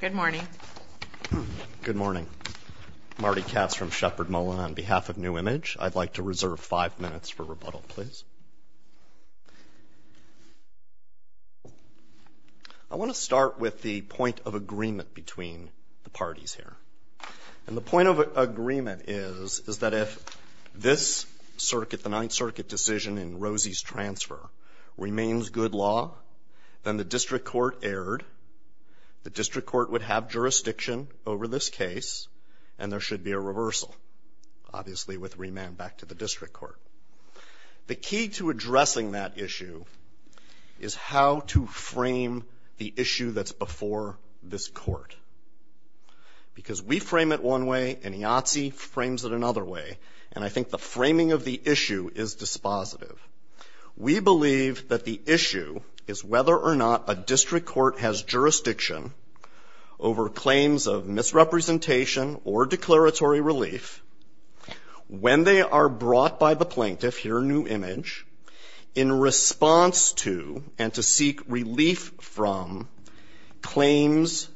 Good morning. Good morning. Marty Katz from Shepard Mullen. On behalf of New Image, I'd like to reserve five minutes for rebuttal, please. I want to start with the point of agreement between the parties here. And the point of agreement is that if this circuit, the Ninth Circuit decision in Rosie's transfer, remains good law, then the district court erred, the district court would have jurisdiction over this case, and there should be a reversal, obviously with remand back to the district court. The key to addressing that issue is how to frame the issue that's before this court. Because we frame it one way, and IATSE frames it another way, and I think the framing of the issue is dispositive. We believe that the issue is whether or not a district court has jurisdiction over claims of misrepresentation or declaratory relief when they are brought by the plaintiff here in New Image in response to and to seek relief from claims,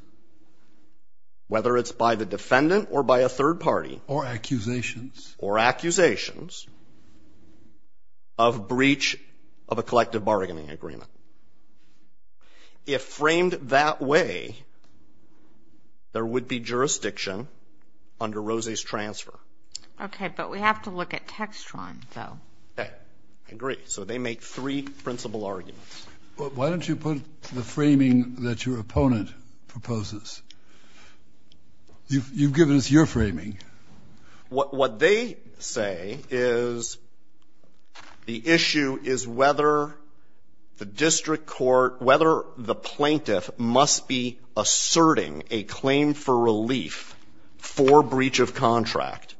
whether it's by the defendant or by a third party. Or accusations. Or accusations of breach of a collective bargaining agreement. If framed that way, there would be jurisdiction under Rosie's transfer. Okay. But we have to look at Textron, though. Okay. I agree. So they make three principal arguments. Why don't you put the framing that your opponent proposes? You've given us your framing. What they say is the issue is whether the district court, whether the plaintiff must be asserting a claim for relief for breach of contract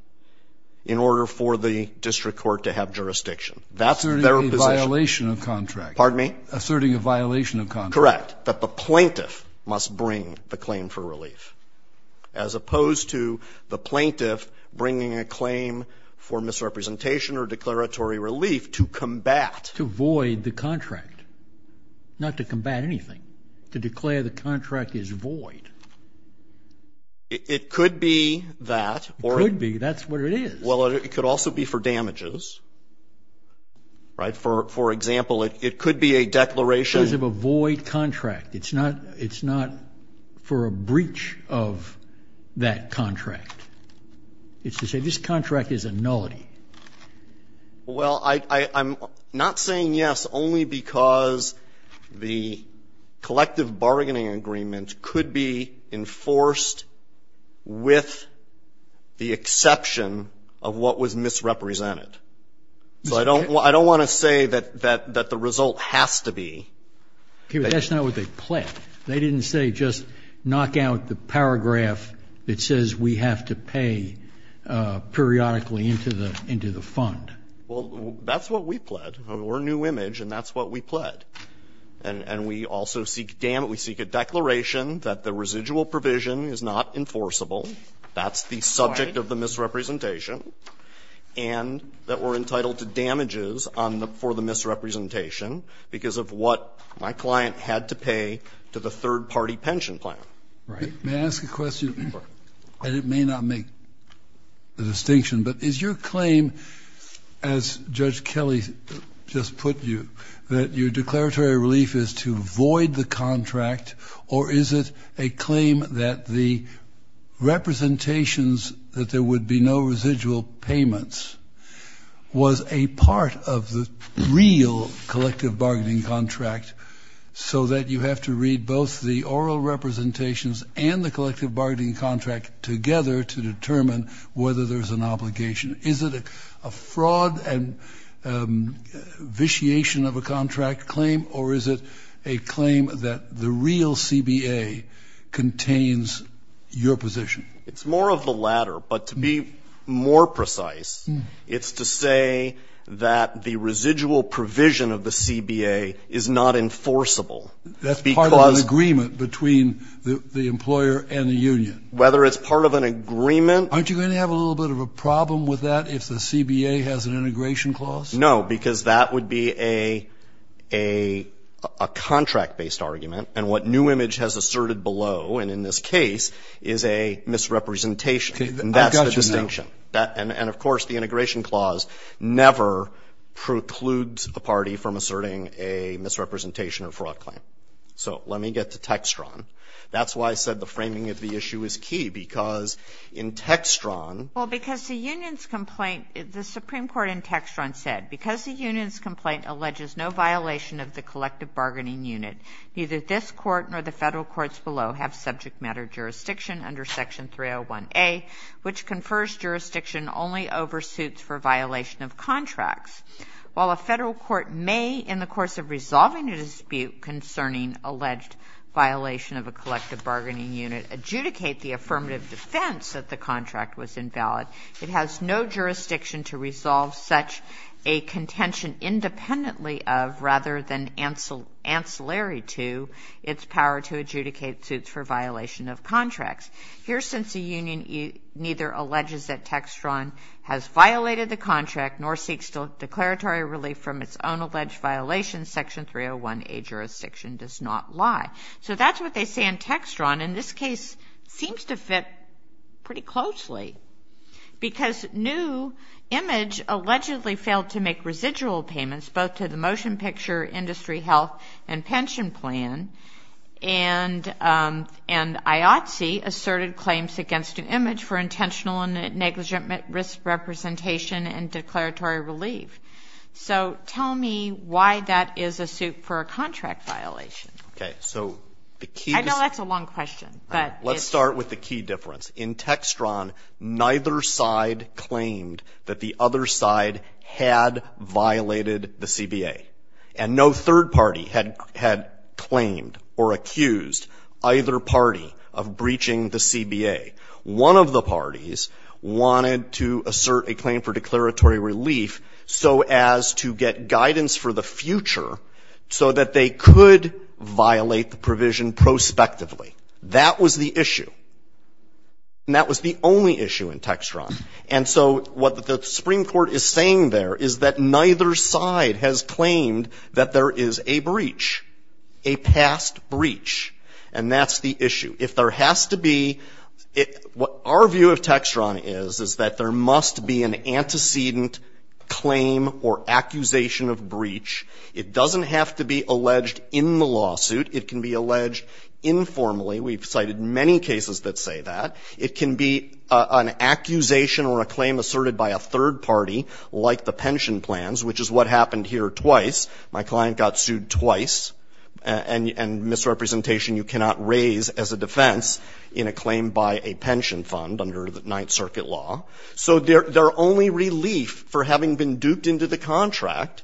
in order for the district court to have jurisdiction. That's their position. Asserting a violation of contract. Pardon me? Asserting a violation of contract. Correct. That the plaintiff must bring the claim for relief. As opposed to the plaintiff bringing a claim for misrepresentation or declaratory relief to combat. To void the contract. Not to combat anything. To declare the contract is void. It could be that. It could be. That's what it is. Well, it could also be for damages. Right? For example, it could be a declaration. Because of a void contract. It's not for a breach of that contract. It's to say this contract is a nullity. Well, I'm not saying yes only because the collective bargaining agreement could be enforced with the exception of what was misrepresented. So I don't want to say that the result has to be. That's not what they pled. They didn't say just knock out the paragraph that says we have to pay periodically into the fund. Well, that's what we pled. We're New Image, and that's what we pled. And we also seek a declaration that the residual provision is not enforceable. That's the subject of the misrepresentation. And that we're entitled to damages on the, for the misrepresentation because of what my client had to pay to the third party pension plan. Right. May I ask a question? Sure. And it may not make a distinction, but is your claim, as Judge Kelly just put you, that your declaratory relief is to void the contract, or is it a claim that the representations that there would be no residual payments was a part of the real collective bargaining contract so that you have to read both the oral representations and the collective bargaining contract together to determine whether there's an obligation? Is it a fraud and vitiation of a contract claim, or is it a claim that the real CBA contains your position? It's more of the latter. But to be more precise, it's to say that the residual provision of the CBA is not enforceable. That's part of an agreement between the employer and the union. Whether it's part of an agreement. Aren't you going to have a little bit of a problem with that if the CBA has an integration clause? No, because that would be a contract-based argument. And what new image has asserted below, and in this case, is a misrepresentation. And that's the distinction. And of course, the integration clause never precludes a party from asserting a misrepresentation or fraud claim. So let me get to Textron. That's why I said the framing of the issue is key, because in Textron ---- Well, because the union's complaint, the Supreme Court in Textron said, because the union's complaint alleges no violation of the collective bargaining unit, neither this court nor the federal courts below have subject matter jurisdiction under Section 301A, which confers jurisdiction only over suits for violation of contracts. While a federal court may, in the course of resolving a dispute concerning alleged violation of a collective bargaining unit, adjudicate the affirmative defense that the contract was invalid, it has no jurisdiction to resolve such a contention independently of, rather than ancillary to, its power to adjudicate suits for violation of contracts. Here, since the union neither alleges that Textron has violated the contract nor seeks declaratory relief from its own alleged violations, Section 301A jurisdiction does not lie. So that's what they say in Textron. And this case seems to fit pretty closely, because New Image allegedly failed to make residual payments both to the Motion Picture Industry Health and Pension Plan, and IOTC asserted claims against New Image for intentional and negligent risk representation and declaratory relief. So tell me why that is a suit for a contract violation. Okay. I know that's a long question. Let's start with the key difference. In Textron, neither side claimed that the other side had violated the CBA. And no third party had claimed or accused either party of breaching the CBA. One of the parties wanted to assert a claim for declaratory relief so as to get guidance for the future so that they could violate the provision prospectively. That was the issue. And that was the only issue in Textron. And so what the Supreme Court is saying there is that neither side has claimed that there is a breach, a past breach. And that's the issue. If there has to be — what our view of Textron is is that there must be an antecedent claim or accusation of breach. It doesn't have to be alleged in the lawsuit. It can be alleged informally. We've cited many cases that say that. It can be an accusation or a claim asserted by a third party, like the pension plans, which is what happened here twice. My client got sued twice, and misrepresentation you cannot raise as a defense in a claim by a pension fund under the Ninth Circuit law. So their only relief for having been duped into the contract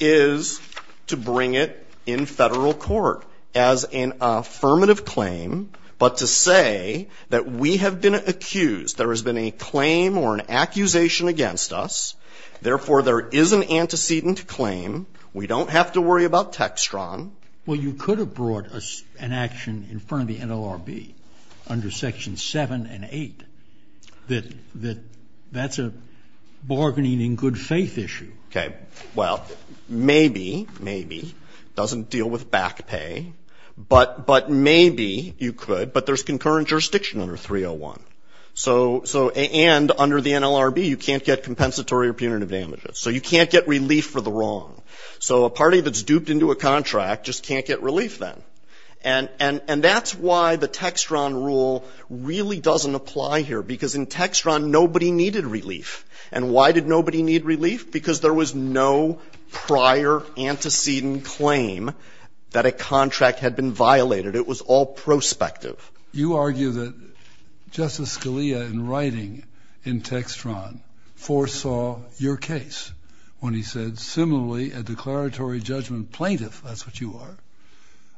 is to bring it in Federal court as an affirmative claim, but to say that we have been accused. There has been a claim or an accusation against us. Therefore, there is an antecedent claim. We don't have to worry about Textron. Well, you could have brought an action in front of the NLRB under Sections 7 and 8, that that's a bargaining in good faith issue. Okay. Well, maybe, maybe. It doesn't deal with back pay. But maybe you could. But there's concurrent jurisdiction under 301. So — and under the NLRB, you can't get compensatory or punitive damages. So you can't get relief for the wrong. So a party that's duped into a contract just can't get relief then. And that's why the Textron rule really doesn't apply here, because in Textron, nobody needed relief. And why did nobody need relief? Because there was no prior antecedent claim that a contract had been violated. It was all prospective. You argue that Justice Scalia, in writing in Textron, foresaw your case when he said, similarly, a declaratory judgment plaintiff, that's what you are,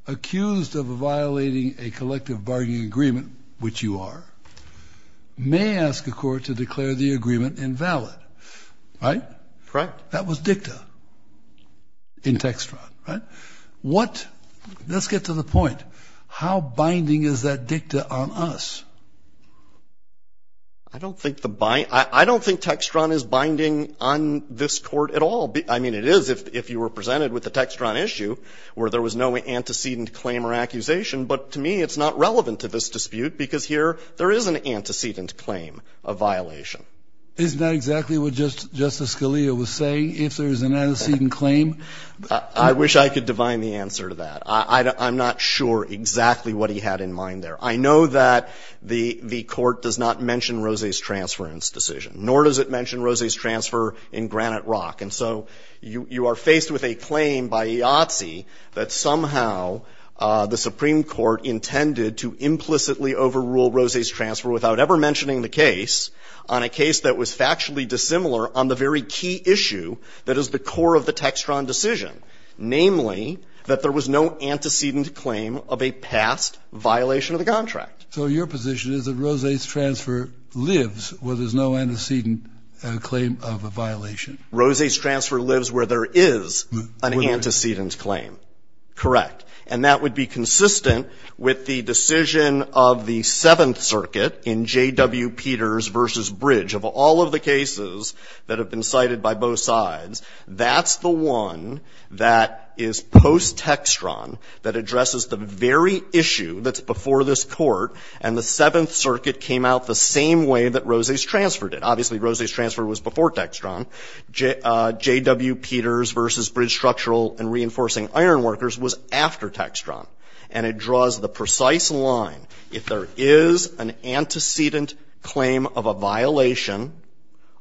accused of violating a collective bargaining agreement, which you are, may ask a court to declare the agreement invalid. Right? Correct. That was dicta in Textron. Right? Let's get to the point. How binding is that dicta on us? I don't think the — I don't think Textron is binding on this Court at all. I mean, it is if you were presented with the Textron issue, where there was no antecedent claim or accusation. But to me, it's not relevant to this dispute, because here there is an antecedent claim of violation. Isn't that exactly what Justice Scalia was saying, if there's an antecedent claim? I wish I could divine the answer to that. I'm not sure exactly what he had in mind there. I know that the Court does not mention Rose's transference decision, nor does it mention Rose's transfer in Granite Rock. And so you are faced with a claim by Yahtzee that somehow the Supreme Court intended to implicitly overrule Rose's transfer without ever mentioning the case on a case that was factually dissimilar on the very key issue that is the core of the Textron decision, namely that there was no antecedent claim of a past violation of the contract. So your position is that Rose's transfer lives where there's no antecedent claim of a violation? Rose's transfer lives where there is an antecedent claim. Correct. And that would be consistent with the decision of the Seventh Circuit in J.W. Peters v. Bridge. Of all of the cases that have been cited by both sides, that's the one that is post-Textron that addresses the very issue that's before this Court, and the Seventh Circuit came out the same way that Rose's transfer did. Obviously, Rose's transfer was before Textron. J.W. Peters v. Bridge Structural and Reinforcing Ironworkers was after Textron. And it draws the precise line. If there is an antecedent claim of a violation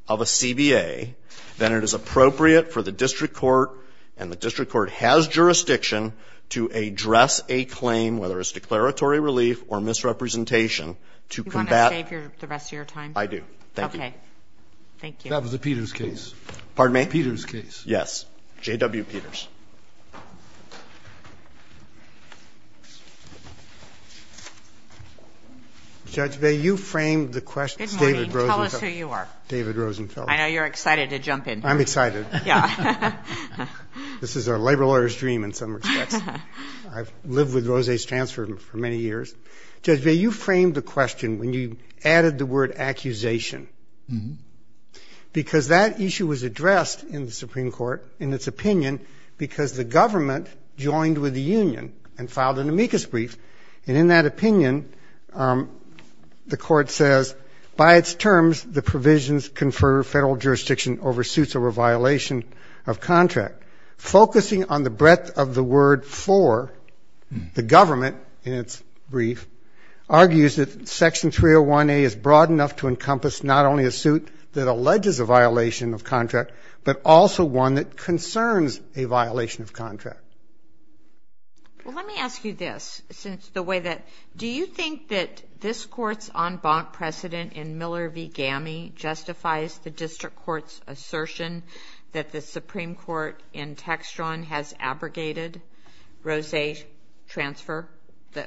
of a CBA, then it is appropriate for the district court, and the district court has jurisdiction, to address a claim, whether it's declaratory relief or misrepresentation, to combat the rest of your time. I do. Thank you. Okay. Thank you. That was a Peters case. Pardon me? Peters case. Yes. J.W. Peters. Judge Baye, you framed the question. David Rosenfeld. Good morning. Tell us who you are. David Rosenfeld. I know you're excited to jump in. I'm excited. Yeah. This is a labor lawyer's dream, in some respects. I've lived with Rose's transfer for many years. Judge Baye, you framed the question when you added the word accusation, because that issue was addressed in the Supreme Court, in its opinion, because the government joined with the union and filed an amicus brief. And in that opinion, the court says, by its terms the provisions confer federal jurisdiction over suits or a violation of contract. Focusing on the breadth of the word for, the government, in its brief, argues that Section 301A is broad enough to encompass not only a suit that but a violation of contract. Well, let me ask you this. Do you think that this court's en banc precedent in Miller v. Gammie justifies the district court's assertion that the Supreme Court in Textron has abrogated Rose's transfer,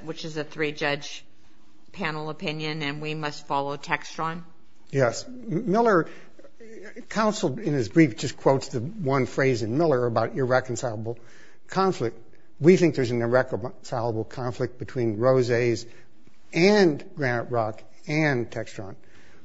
which is a three-judge panel opinion, and we must follow Textron? Yes. Miller counseled in his brief, just quotes the one phrase in Miller about irreconcilable conflict. We think there's an irreconcilable conflict between Rose's and Granite Rock and Textron.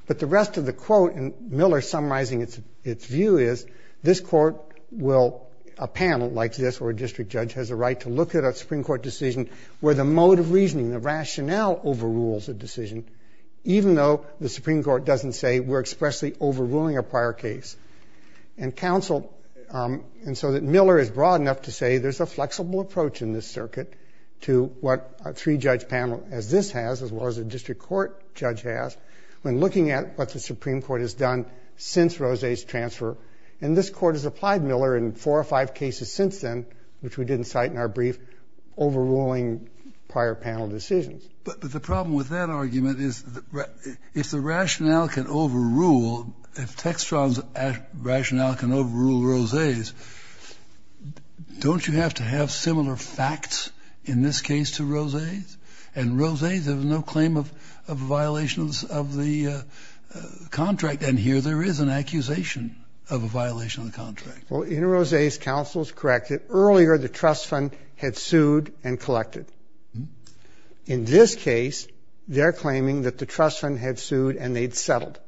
But the rest of the quote, and Miller summarizing its view is, this court will, a panel like this or a district judge, has a right to look at a Supreme Court decision where the mode of reasoning, the rationale overrules a decision, even though the Supreme Court doesn't say we're expressly overruling a prior case. And so that Miller is broad enough to say there's a flexible approach in this circuit to what a three-judge panel as this has, as well as a district court judge has, when looking at what the Supreme Court has done since Rose's transfer. And this court has applied Miller in four or five cases since then, which we didn't cite in our brief, overruling prior panel decisions. But the problem with that argument is if the rationale can overrule, if Textron's rationale can overrule Rose's, don't you have to have similar facts in this case to Rose's? And Rose's, there was no claim of violations of the contract. And here there is an accusation of a violation of the contract. Well, in Rose's, counsel is correct. Earlier, the trust fund had sued and collected. In this case, they're claiming that the trust fund had sued and they'd settled.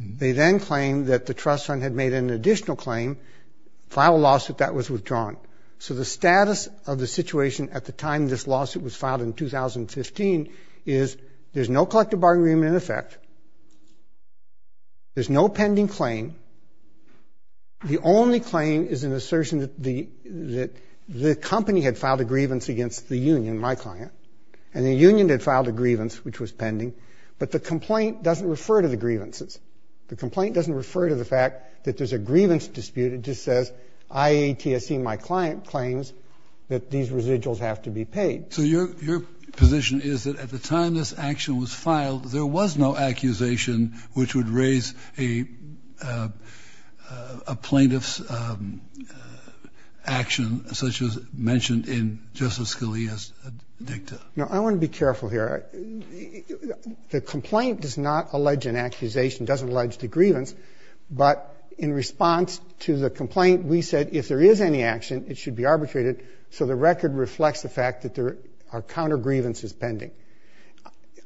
They then claimed that the trust fund had made an additional claim, filed a lawsuit that was withdrawn. So the status of the situation at the time this lawsuit was filed in 2015 is there's no collective bargaining agreement in effect. There's no pending claim. The only claim is an assertion that the company had filed a grievance against the union, my client. And the union had filed a grievance, which was pending. But the complaint doesn't refer to the grievances. The complaint doesn't refer to the fact that there's a grievance dispute. It just says IATSE, my client, claims that these residuals have to be paid. So your position is that at the time this action was filed, there was no accusation which would raise a plaintiff's action, such as mentioned in Justice Scalia's dicta? No, I want to be careful here. The complaint does not allege an accusation, doesn't allege the grievance. But in response to the complaint, we said if there is any action, it should be arbitrated so the record reflects the fact that there are counter grievances pending.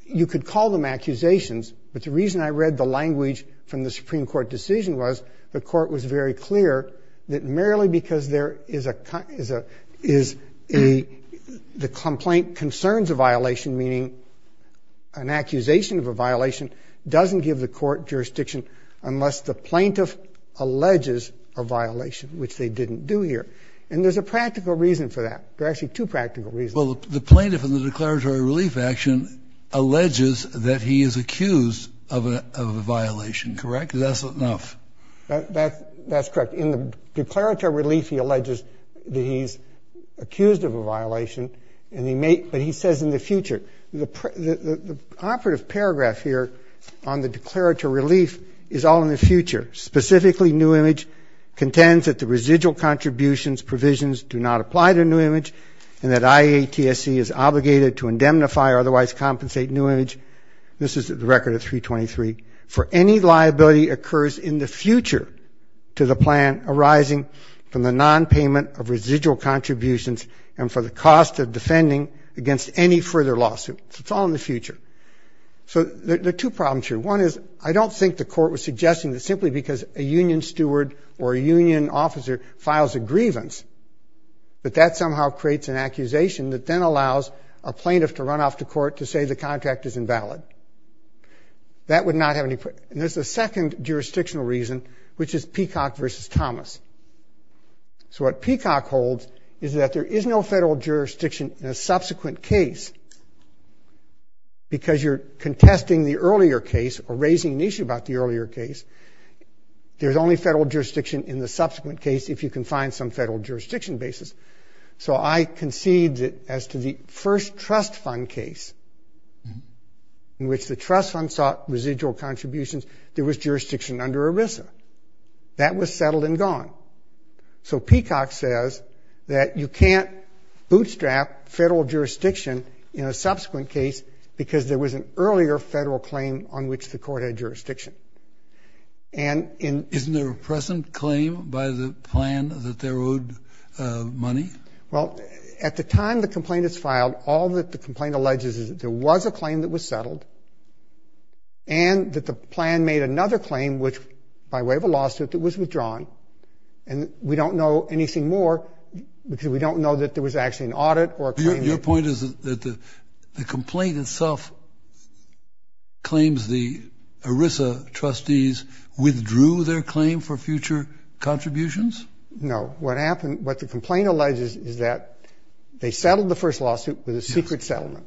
You could call them accusations, but the reason I read the language from the Supreme Court decision was that the court was very clear that merely because the complaint concerns a violation, meaning an accusation of a violation, doesn't give the court jurisdiction unless the plaintiff alleges a violation, which they didn't do here. And there's a practical reason for that. There are actually two practical reasons. Well, the plaintiff in the declaratory relief action alleges that he is accused of a violation, correct? That's enough. That's correct. In the declaratory relief, he alleges that he's accused of a violation, but he says in the future. The operative paragraph here on the declaratory relief is all in the future. Specifically, new image contends that the residual contributions, provisions do not apply to new image, and that IATSC is obligated to indemnify or otherwise compensate new image. This is the record of 323. For any liability occurs in the future to the plan arising from the nonpayment of residual contributions and for the cost of defending against any further lawsuit. It's all in the future. So there are two problems here. One is I don't think the court was suggesting that simply because a union steward or a union officer files a grievance that that somehow creates an accusation that then allows a plaintiff to run off to court to say the contract is invalid. That would not have any – and there's a second jurisdictional reason, which is Peacock versus Thomas. So what Peacock holds is that there is no federal jurisdiction in a subsequent case because you're contesting the earlier case or raising an issue about the earlier case. There's only federal jurisdiction in the subsequent case if you can find some federal jurisdiction basis. So I concede that as to the first trust fund case in which the trust fund sought residual contributions, there was jurisdiction under ERISA. That was settled and gone. So Peacock says that you can't bootstrap federal jurisdiction in a subsequent case because there was an earlier federal claim on which the court had jurisdiction. Isn't there a present claim by the plan that they're owed money? Well, at the time the complaint is filed, all that the complaint alleges is that there was a claim that was settled and that the plan made another claim, which by way of a lawsuit, it was withdrawn. And we don't know anything more because we don't know that there was actually an audit or a claim. Your point is that the complaint itself claims the ERISA trustees withdrew their claim for future contributions? No. What the complaint alleges is that they settled the first lawsuit with a secret settlement.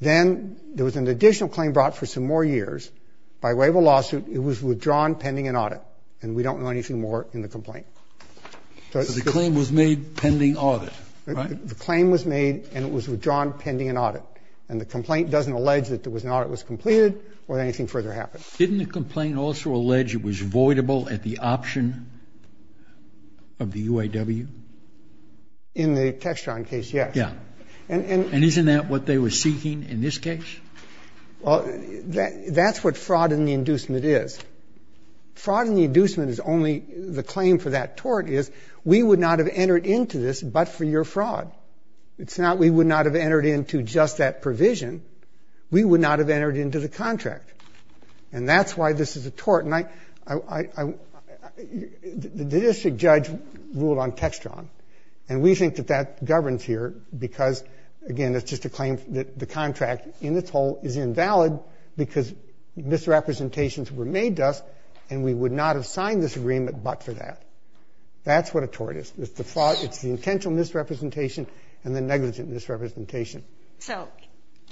Then there was an additional claim brought for some more years. By way of a lawsuit, it was withdrawn pending an audit. And we don't know anything more in the complaint. So the claim was made pending audit, right? The claim was made and it was withdrawn pending an audit. And the complaint doesn't allege that there was an audit that was completed or that anything further happened. Didn't the complaint also allege it was voidable at the option of the UAW? In the Textron case, yes. Yeah. And isn't that what they were seeking in this case? Well, that's what fraud in the inducement is. Fraud in the inducement is only the claim for that tort is we would not have entered into just that provision. We would not have entered into the contract. And that's why this is a tort. The district judge ruled on Textron. And we think that that governs here because, again, it's just a claim that the contract in its whole is invalid because misrepresentations were made to us and we would not have signed this agreement but for that. That's what a tort is. It's the intentional misrepresentation and the negligent misrepresentation. So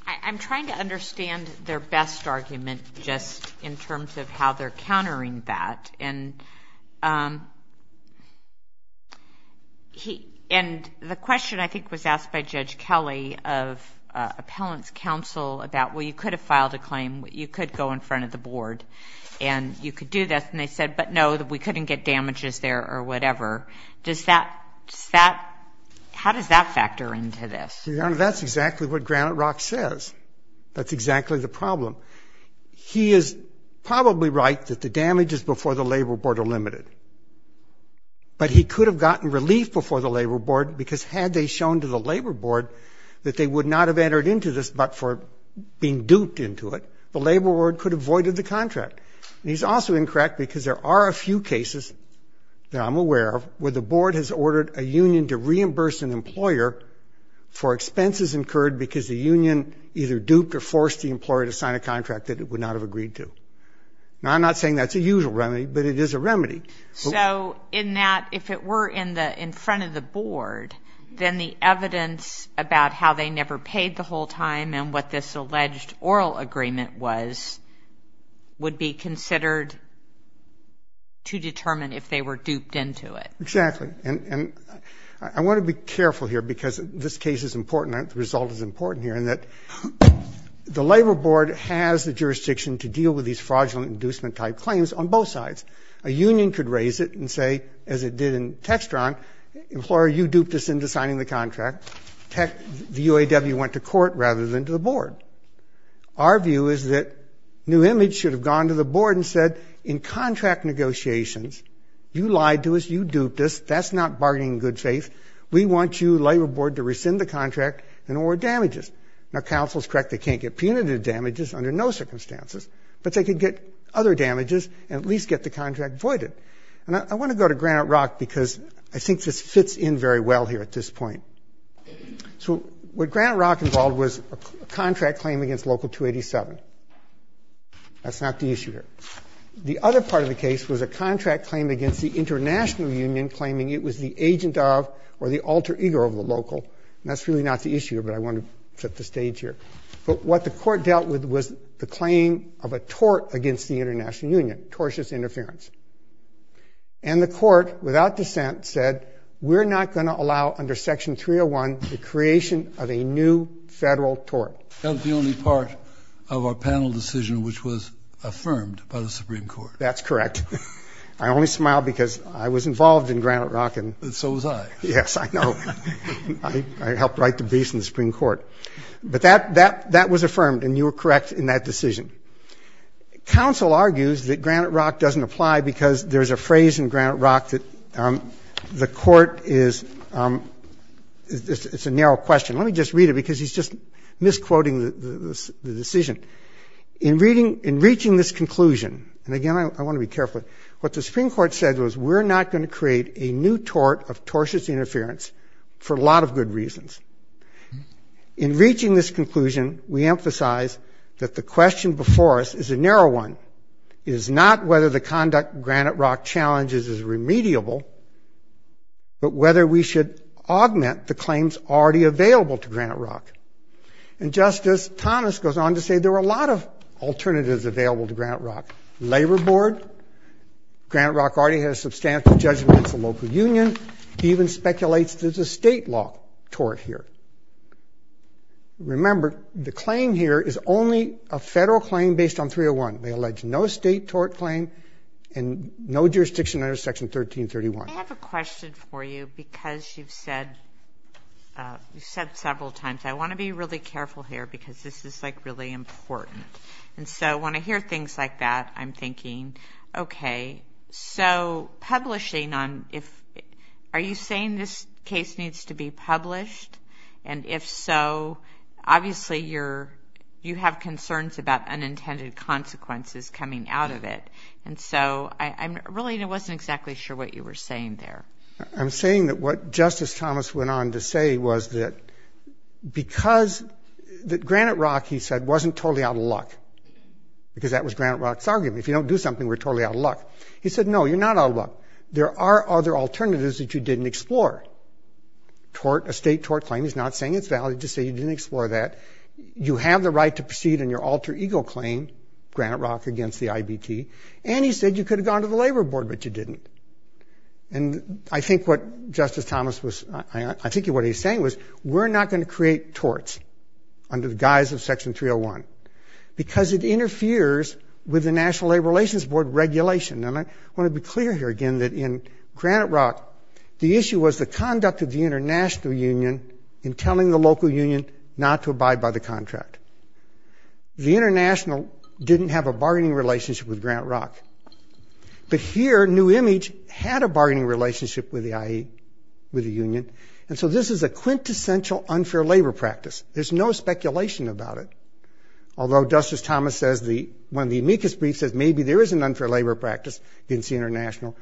I'm trying to understand their best argument just in terms of how they're countering that. And the question, I think, was asked by Judge Kelly of appellant's counsel about, well, you could have filed a claim, you could go in front of the board, and you could do this. And they said, but, no, we couldn't get damages there or whatever. Does that ‑‑ how does that factor into this? Your Honor, that's exactly what Granite Rock says. That's exactly the problem. He is probably right that the damages before the labor board are limited. But he could have gotten relief before the labor board because had they shown to the labor board that they would not have entered into this but for being duped into it, the labor board could have voided the contract. And he's also incorrect because there are a few cases that I'm aware of where the board has ordered a union to reimburse an employer for expenses incurred because the union either duped or forced the employer to sign a contract that it would not have agreed to. Now, I'm not saying that's a usual remedy, but it is a remedy. So in that, if it were in front of the board, then the evidence about how they never paid the whole time and what this would be considered to determine if they were duped into it. Exactly. And I want to be careful here because this case is important. The result is important here in that the labor board has the jurisdiction to deal with these fraudulent inducement type claims on both sides. A union could raise it and say, as it did in Textron, employer, you duped us into signing the contract. The UAW went to court rather than to the board. Our view is that New Image should have gone to the board and said, in contract negotiations, you lied to us, you duped us. That's not bargaining in good faith. We want you, labor board, to rescind the contract and award damages. Now, counsel's correct. They can't get punitive damages under no circumstances, but they could get other damages and at least get the contract voided. And I want to go to Granite Rock because I think this fits in very well here at this point. So what Granite Rock involved was a contract claim against Local 287. That's not the issue here. The other part of the case was a contract claim against the international union claiming it was the agent of or the alter ego of the local. And that's really not the issue here, but I want to set the stage here. But what the court dealt with was the claim of a tort against the international union, tortious interference. And the court, without dissent, said, we're not going to allow under Section 301 the creation of a new federal tort. That was the only part of our panel decision which was affirmed by the Supreme Court. That's correct. I only smile because I was involved in Granite Rock. So was I. Yes, I know. I helped write the beast in the Supreme Court. But that was affirmed, and you were correct in that decision. Counsel argues that Granite Rock doesn't apply because there's a phrase in the Supreme Court. It's a narrow question. Let me just read it because he's just misquoting the decision. In reaching this conclusion, and, again, I want to be careful, what the Supreme Court said was we're not going to create a new tort of tortious interference for a lot of good reasons. In reaching this conclusion, we emphasize that the question before us is a narrow one. It is not whether the conduct Granite Rock challenges is remediable, but whether we should augment the claims already available to Granite Rock. And Justice Thomas goes on to say there are a lot of alternatives available to Granite Rock. Labor Board, Granite Rock already has substantial judgment against the local union, even speculates there's a state law tort here. Remember, the claim here is only a federal claim based on 301. They allege no state tort claim and no jurisdiction under Section 1331. I have a question for you because you've said several times, I want to be really careful here because this is, like, really important. And so when I hear things like that, I'm thinking, okay, so publishing on if – are you saying this case needs to be published? And if so, obviously you're – you have concerns about unintended consequences coming out of it. And so I'm really – I wasn't exactly sure what you were saying there. I'm saying that what Justice Thomas went on to say was that because – that Granite Rock, he said, wasn't totally out of luck because that was Granite Rock's argument. If you don't do something, we're totally out of luck. He said, no, you're not out of luck. There are other alternatives that you didn't explore. Tort – a state tort claim, he's not saying it's valid, just saying you didn't explore that. You have the right to proceed on your alter ego claim, Granite Rock against the IBT. And he said you could have gone to the Labor Board, but you didn't. And I think what Justice Thomas was – I think what he was saying was we're not going to create torts under the guise of Section 301 because it interferes with the National Labor Relations Board regulation. And I want to be clear here, again, that in Granite Rock, the issue was the conduct of the international union in telling the local union not to abide by the contract. The international didn't have a bargaining relationship with Granite Rock. But here, New Image had a bargaining relationship with the IE, with the union. And so this is a quintessential unfair labor practice. There's no speculation about it, although Justice Thomas says the – says maybe there is an unfair labor practice against the international.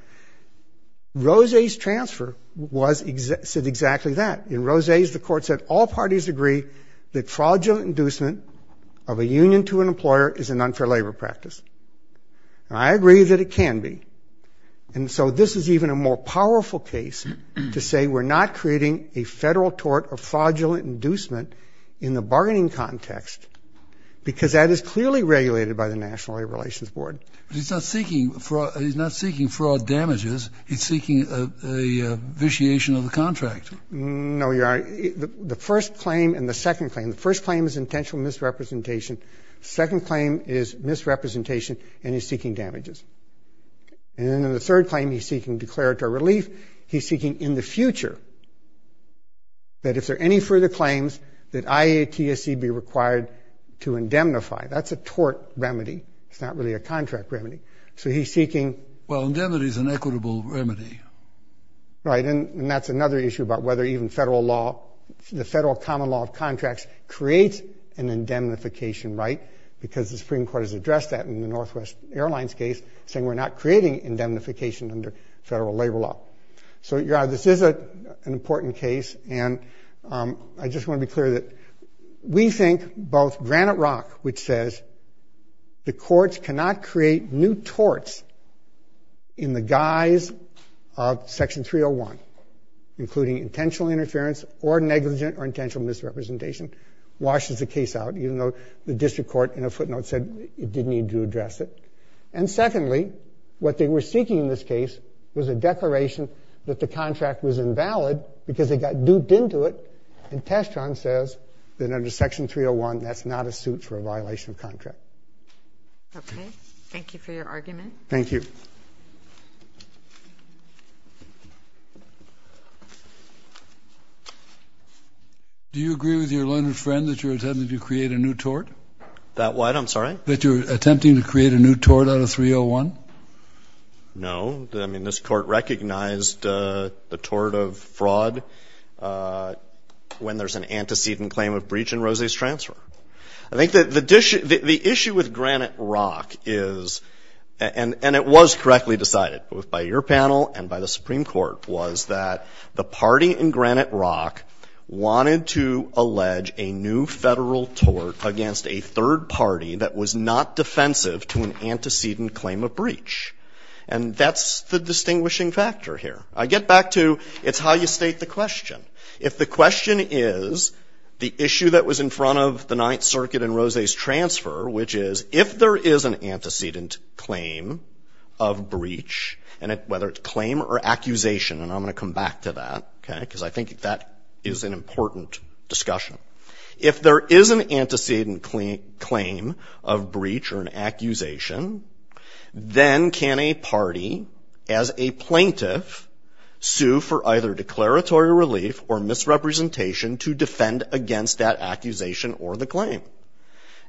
Rose's transfer was – said exactly that. In Rose's, the court said all parties agree that fraudulent inducement of a union to an employer is an unfair labor practice. And I agree that it can be. And so this is even a more powerful case to say we're not creating a federal tort of fraudulent inducement in the bargaining context because that is what the National Labor Relations Board – But he's not seeking fraud – he's not seeking fraud damages. He's seeking a vitiation of the contract. No, Your Honor. The first claim and the second claim. The first claim is intentional misrepresentation. The second claim is misrepresentation and he's seeking damages. And then in the third claim, he's seeking declaratory relief. He's seeking in the future that if there are any further claims, that IATSC be required to indemnify. That's a tort remedy. It's not really a contract remedy. So he's seeking – Well, indemnity is an equitable remedy. Right, and that's another issue about whether even federal law – the federal common law of contracts creates an indemnification, right, because the Supreme Court has addressed that in the Northwest Airlines case, saying we're not creating indemnification under federal labor law. So, Your Honor, this is an important case, and I just want to be clear that we think both Granite Rock, which says the courts cannot create new torts in the guise of Section 301, including intentional interference or negligent or intentional misrepresentation, washes the case out, even though the district court in a footnote said it didn't need to address it. And secondly, what they were seeking in this case was a declaration that the contract was invalid because they got duped into it, and Testron says that under Section 301, that's not a suit for a violation of contract. Okay. Thank you for your argument. Thank you. Do you agree with your learned friend that you're attempting to create a new tort? That what? I'm sorry? That you're attempting to create a new tort out of 301? No. I mean, this Court recognized the tort of fraud when there's an antecedent claim of breach in Rose's transfer. I think that the issue with Granite Rock is, and it was correctly decided, both by your panel and by the Supreme Court, was that the party in Granite Rock wanted to allege a new federal tort against a third party that was not defensive to an antecedent claim of breach. And that's the distinguishing factor here. I get back to it's how you state the question. If the question is the issue that was in front of the Ninth Circuit in Rose's transfer, which is, if there is an antecedent claim of breach, and whether it's claim or accusation, and I'm going to come back to that, okay, because I think that is an important discussion. If there is an antecedent claim of breach or an accusation, then can a party, as a plaintiff, sue for either declaratory relief or misrepresentation to defend against that accusation or the claim?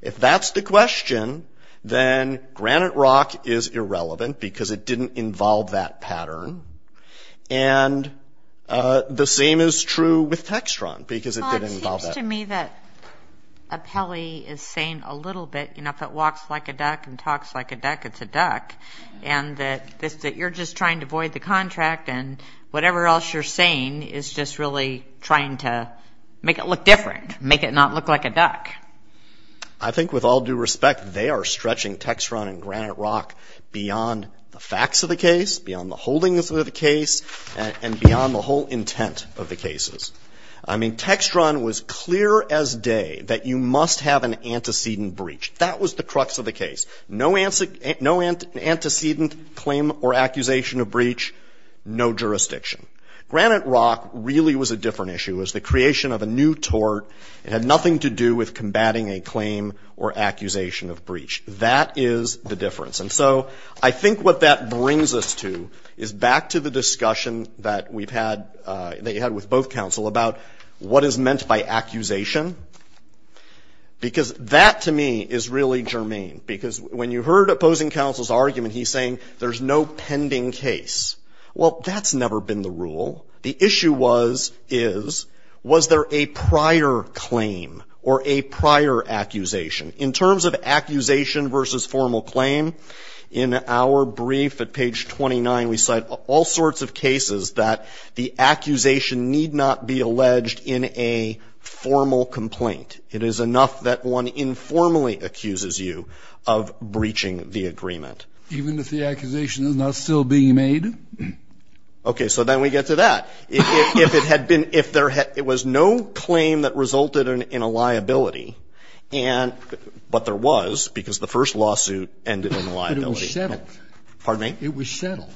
If that's the question, then Granite Rock is irrelevant because it didn't involve that pattern. And the same is true with Textron because it didn't involve that pattern. It seems to me that Apelli is saying a little bit, you know, if it walks like a duck and talks like a duck, it's a duck, and that you're just trying to void the contract and whatever else you're saying is just really trying to make it look different, make it not look like a duck. I think with all due respect, they are stretching Textron and Granite Rock beyond the facts of the case, beyond the holdings of the case, and beyond the whole intent of the cases. I mean, Textron was clear as day that you must have an antecedent breach. That was the crux of the case. No antecedent claim or accusation of breach, no jurisdiction. Granite Rock really was a different issue. It was the creation of a new tort. It had nothing to do with combating a claim or accusation of breach. That is the difference. And so I think what that brings us to is back to the discussion that we've had, that you had with both counsel, about what is meant by accusation. Because that, to me, is really germane. Because when you heard opposing counsel's argument, he's saying there's no pending case. Well, that's never been the rule. The issue was, is, was there a prior claim or a prior accusation? In terms of accusation versus formal claim, in our brief at page 29, we cite all sorts of cases that the accusation need not be alleged in a formal complaint. It is enough that one informally accuses you of breaching the agreement. Even if the accusation is not still being made? Okay, so then we get to that. If it had been, if there had, it was no claim that resulted in a liability, and, but there was, because the first lawsuit ended in liability. But it was settled. Pardon me? It was settled.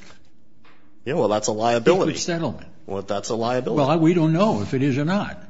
Yeah, well, that's a liability. It's a settlement. Well, that's a liability. Well, we don't know if it is or not.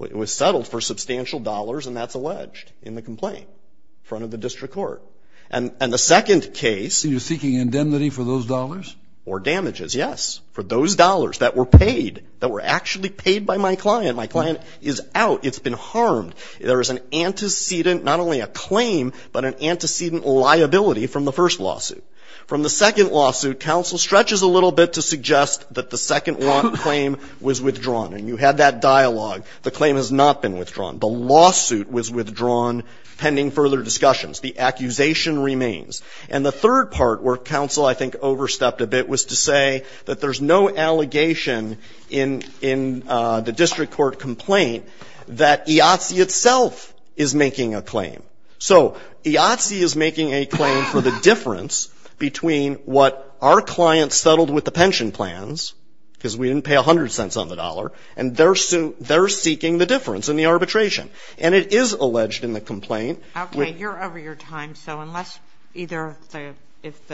It was settled for substantial dollars, and that's alleged in the complaint in front of the district court. And the second case. You're seeking indemnity for those dollars? Or damages, yes, for those dollars that were paid, that were actually paid by my client. My client is out. It's been harmed. There is an antecedent, not only a claim, but an antecedent liability from the first lawsuit. From the second lawsuit, counsel stretches a little bit to suggest that the second claim was withdrawn. And you had that dialogue. The claim has not been withdrawn. The lawsuit was withdrawn pending further discussions. The accusation remains. And the third part where counsel I think overstepped a bit was to say that there's no allegation in the district court complaint that IATSE itself is making a claim. So IATSE is making a claim for the difference between what our client settled with the pension plans, because we didn't pay 100 cents on the dollar, and they're seeking the difference in the arbitration. And it is alleged in the complaint. Okay. You're over your time. So unless either if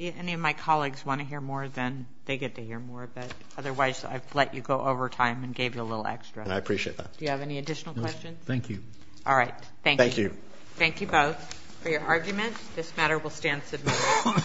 any of my colleagues want to hear more, then they get to hear more. But otherwise, I've let you go over time and gave you a little extra. I appreciate that. Do you have any additional questions? No. Thank you. All right. Thank you. Thank you. Thank you both for your arguments. This matter will stand submitted.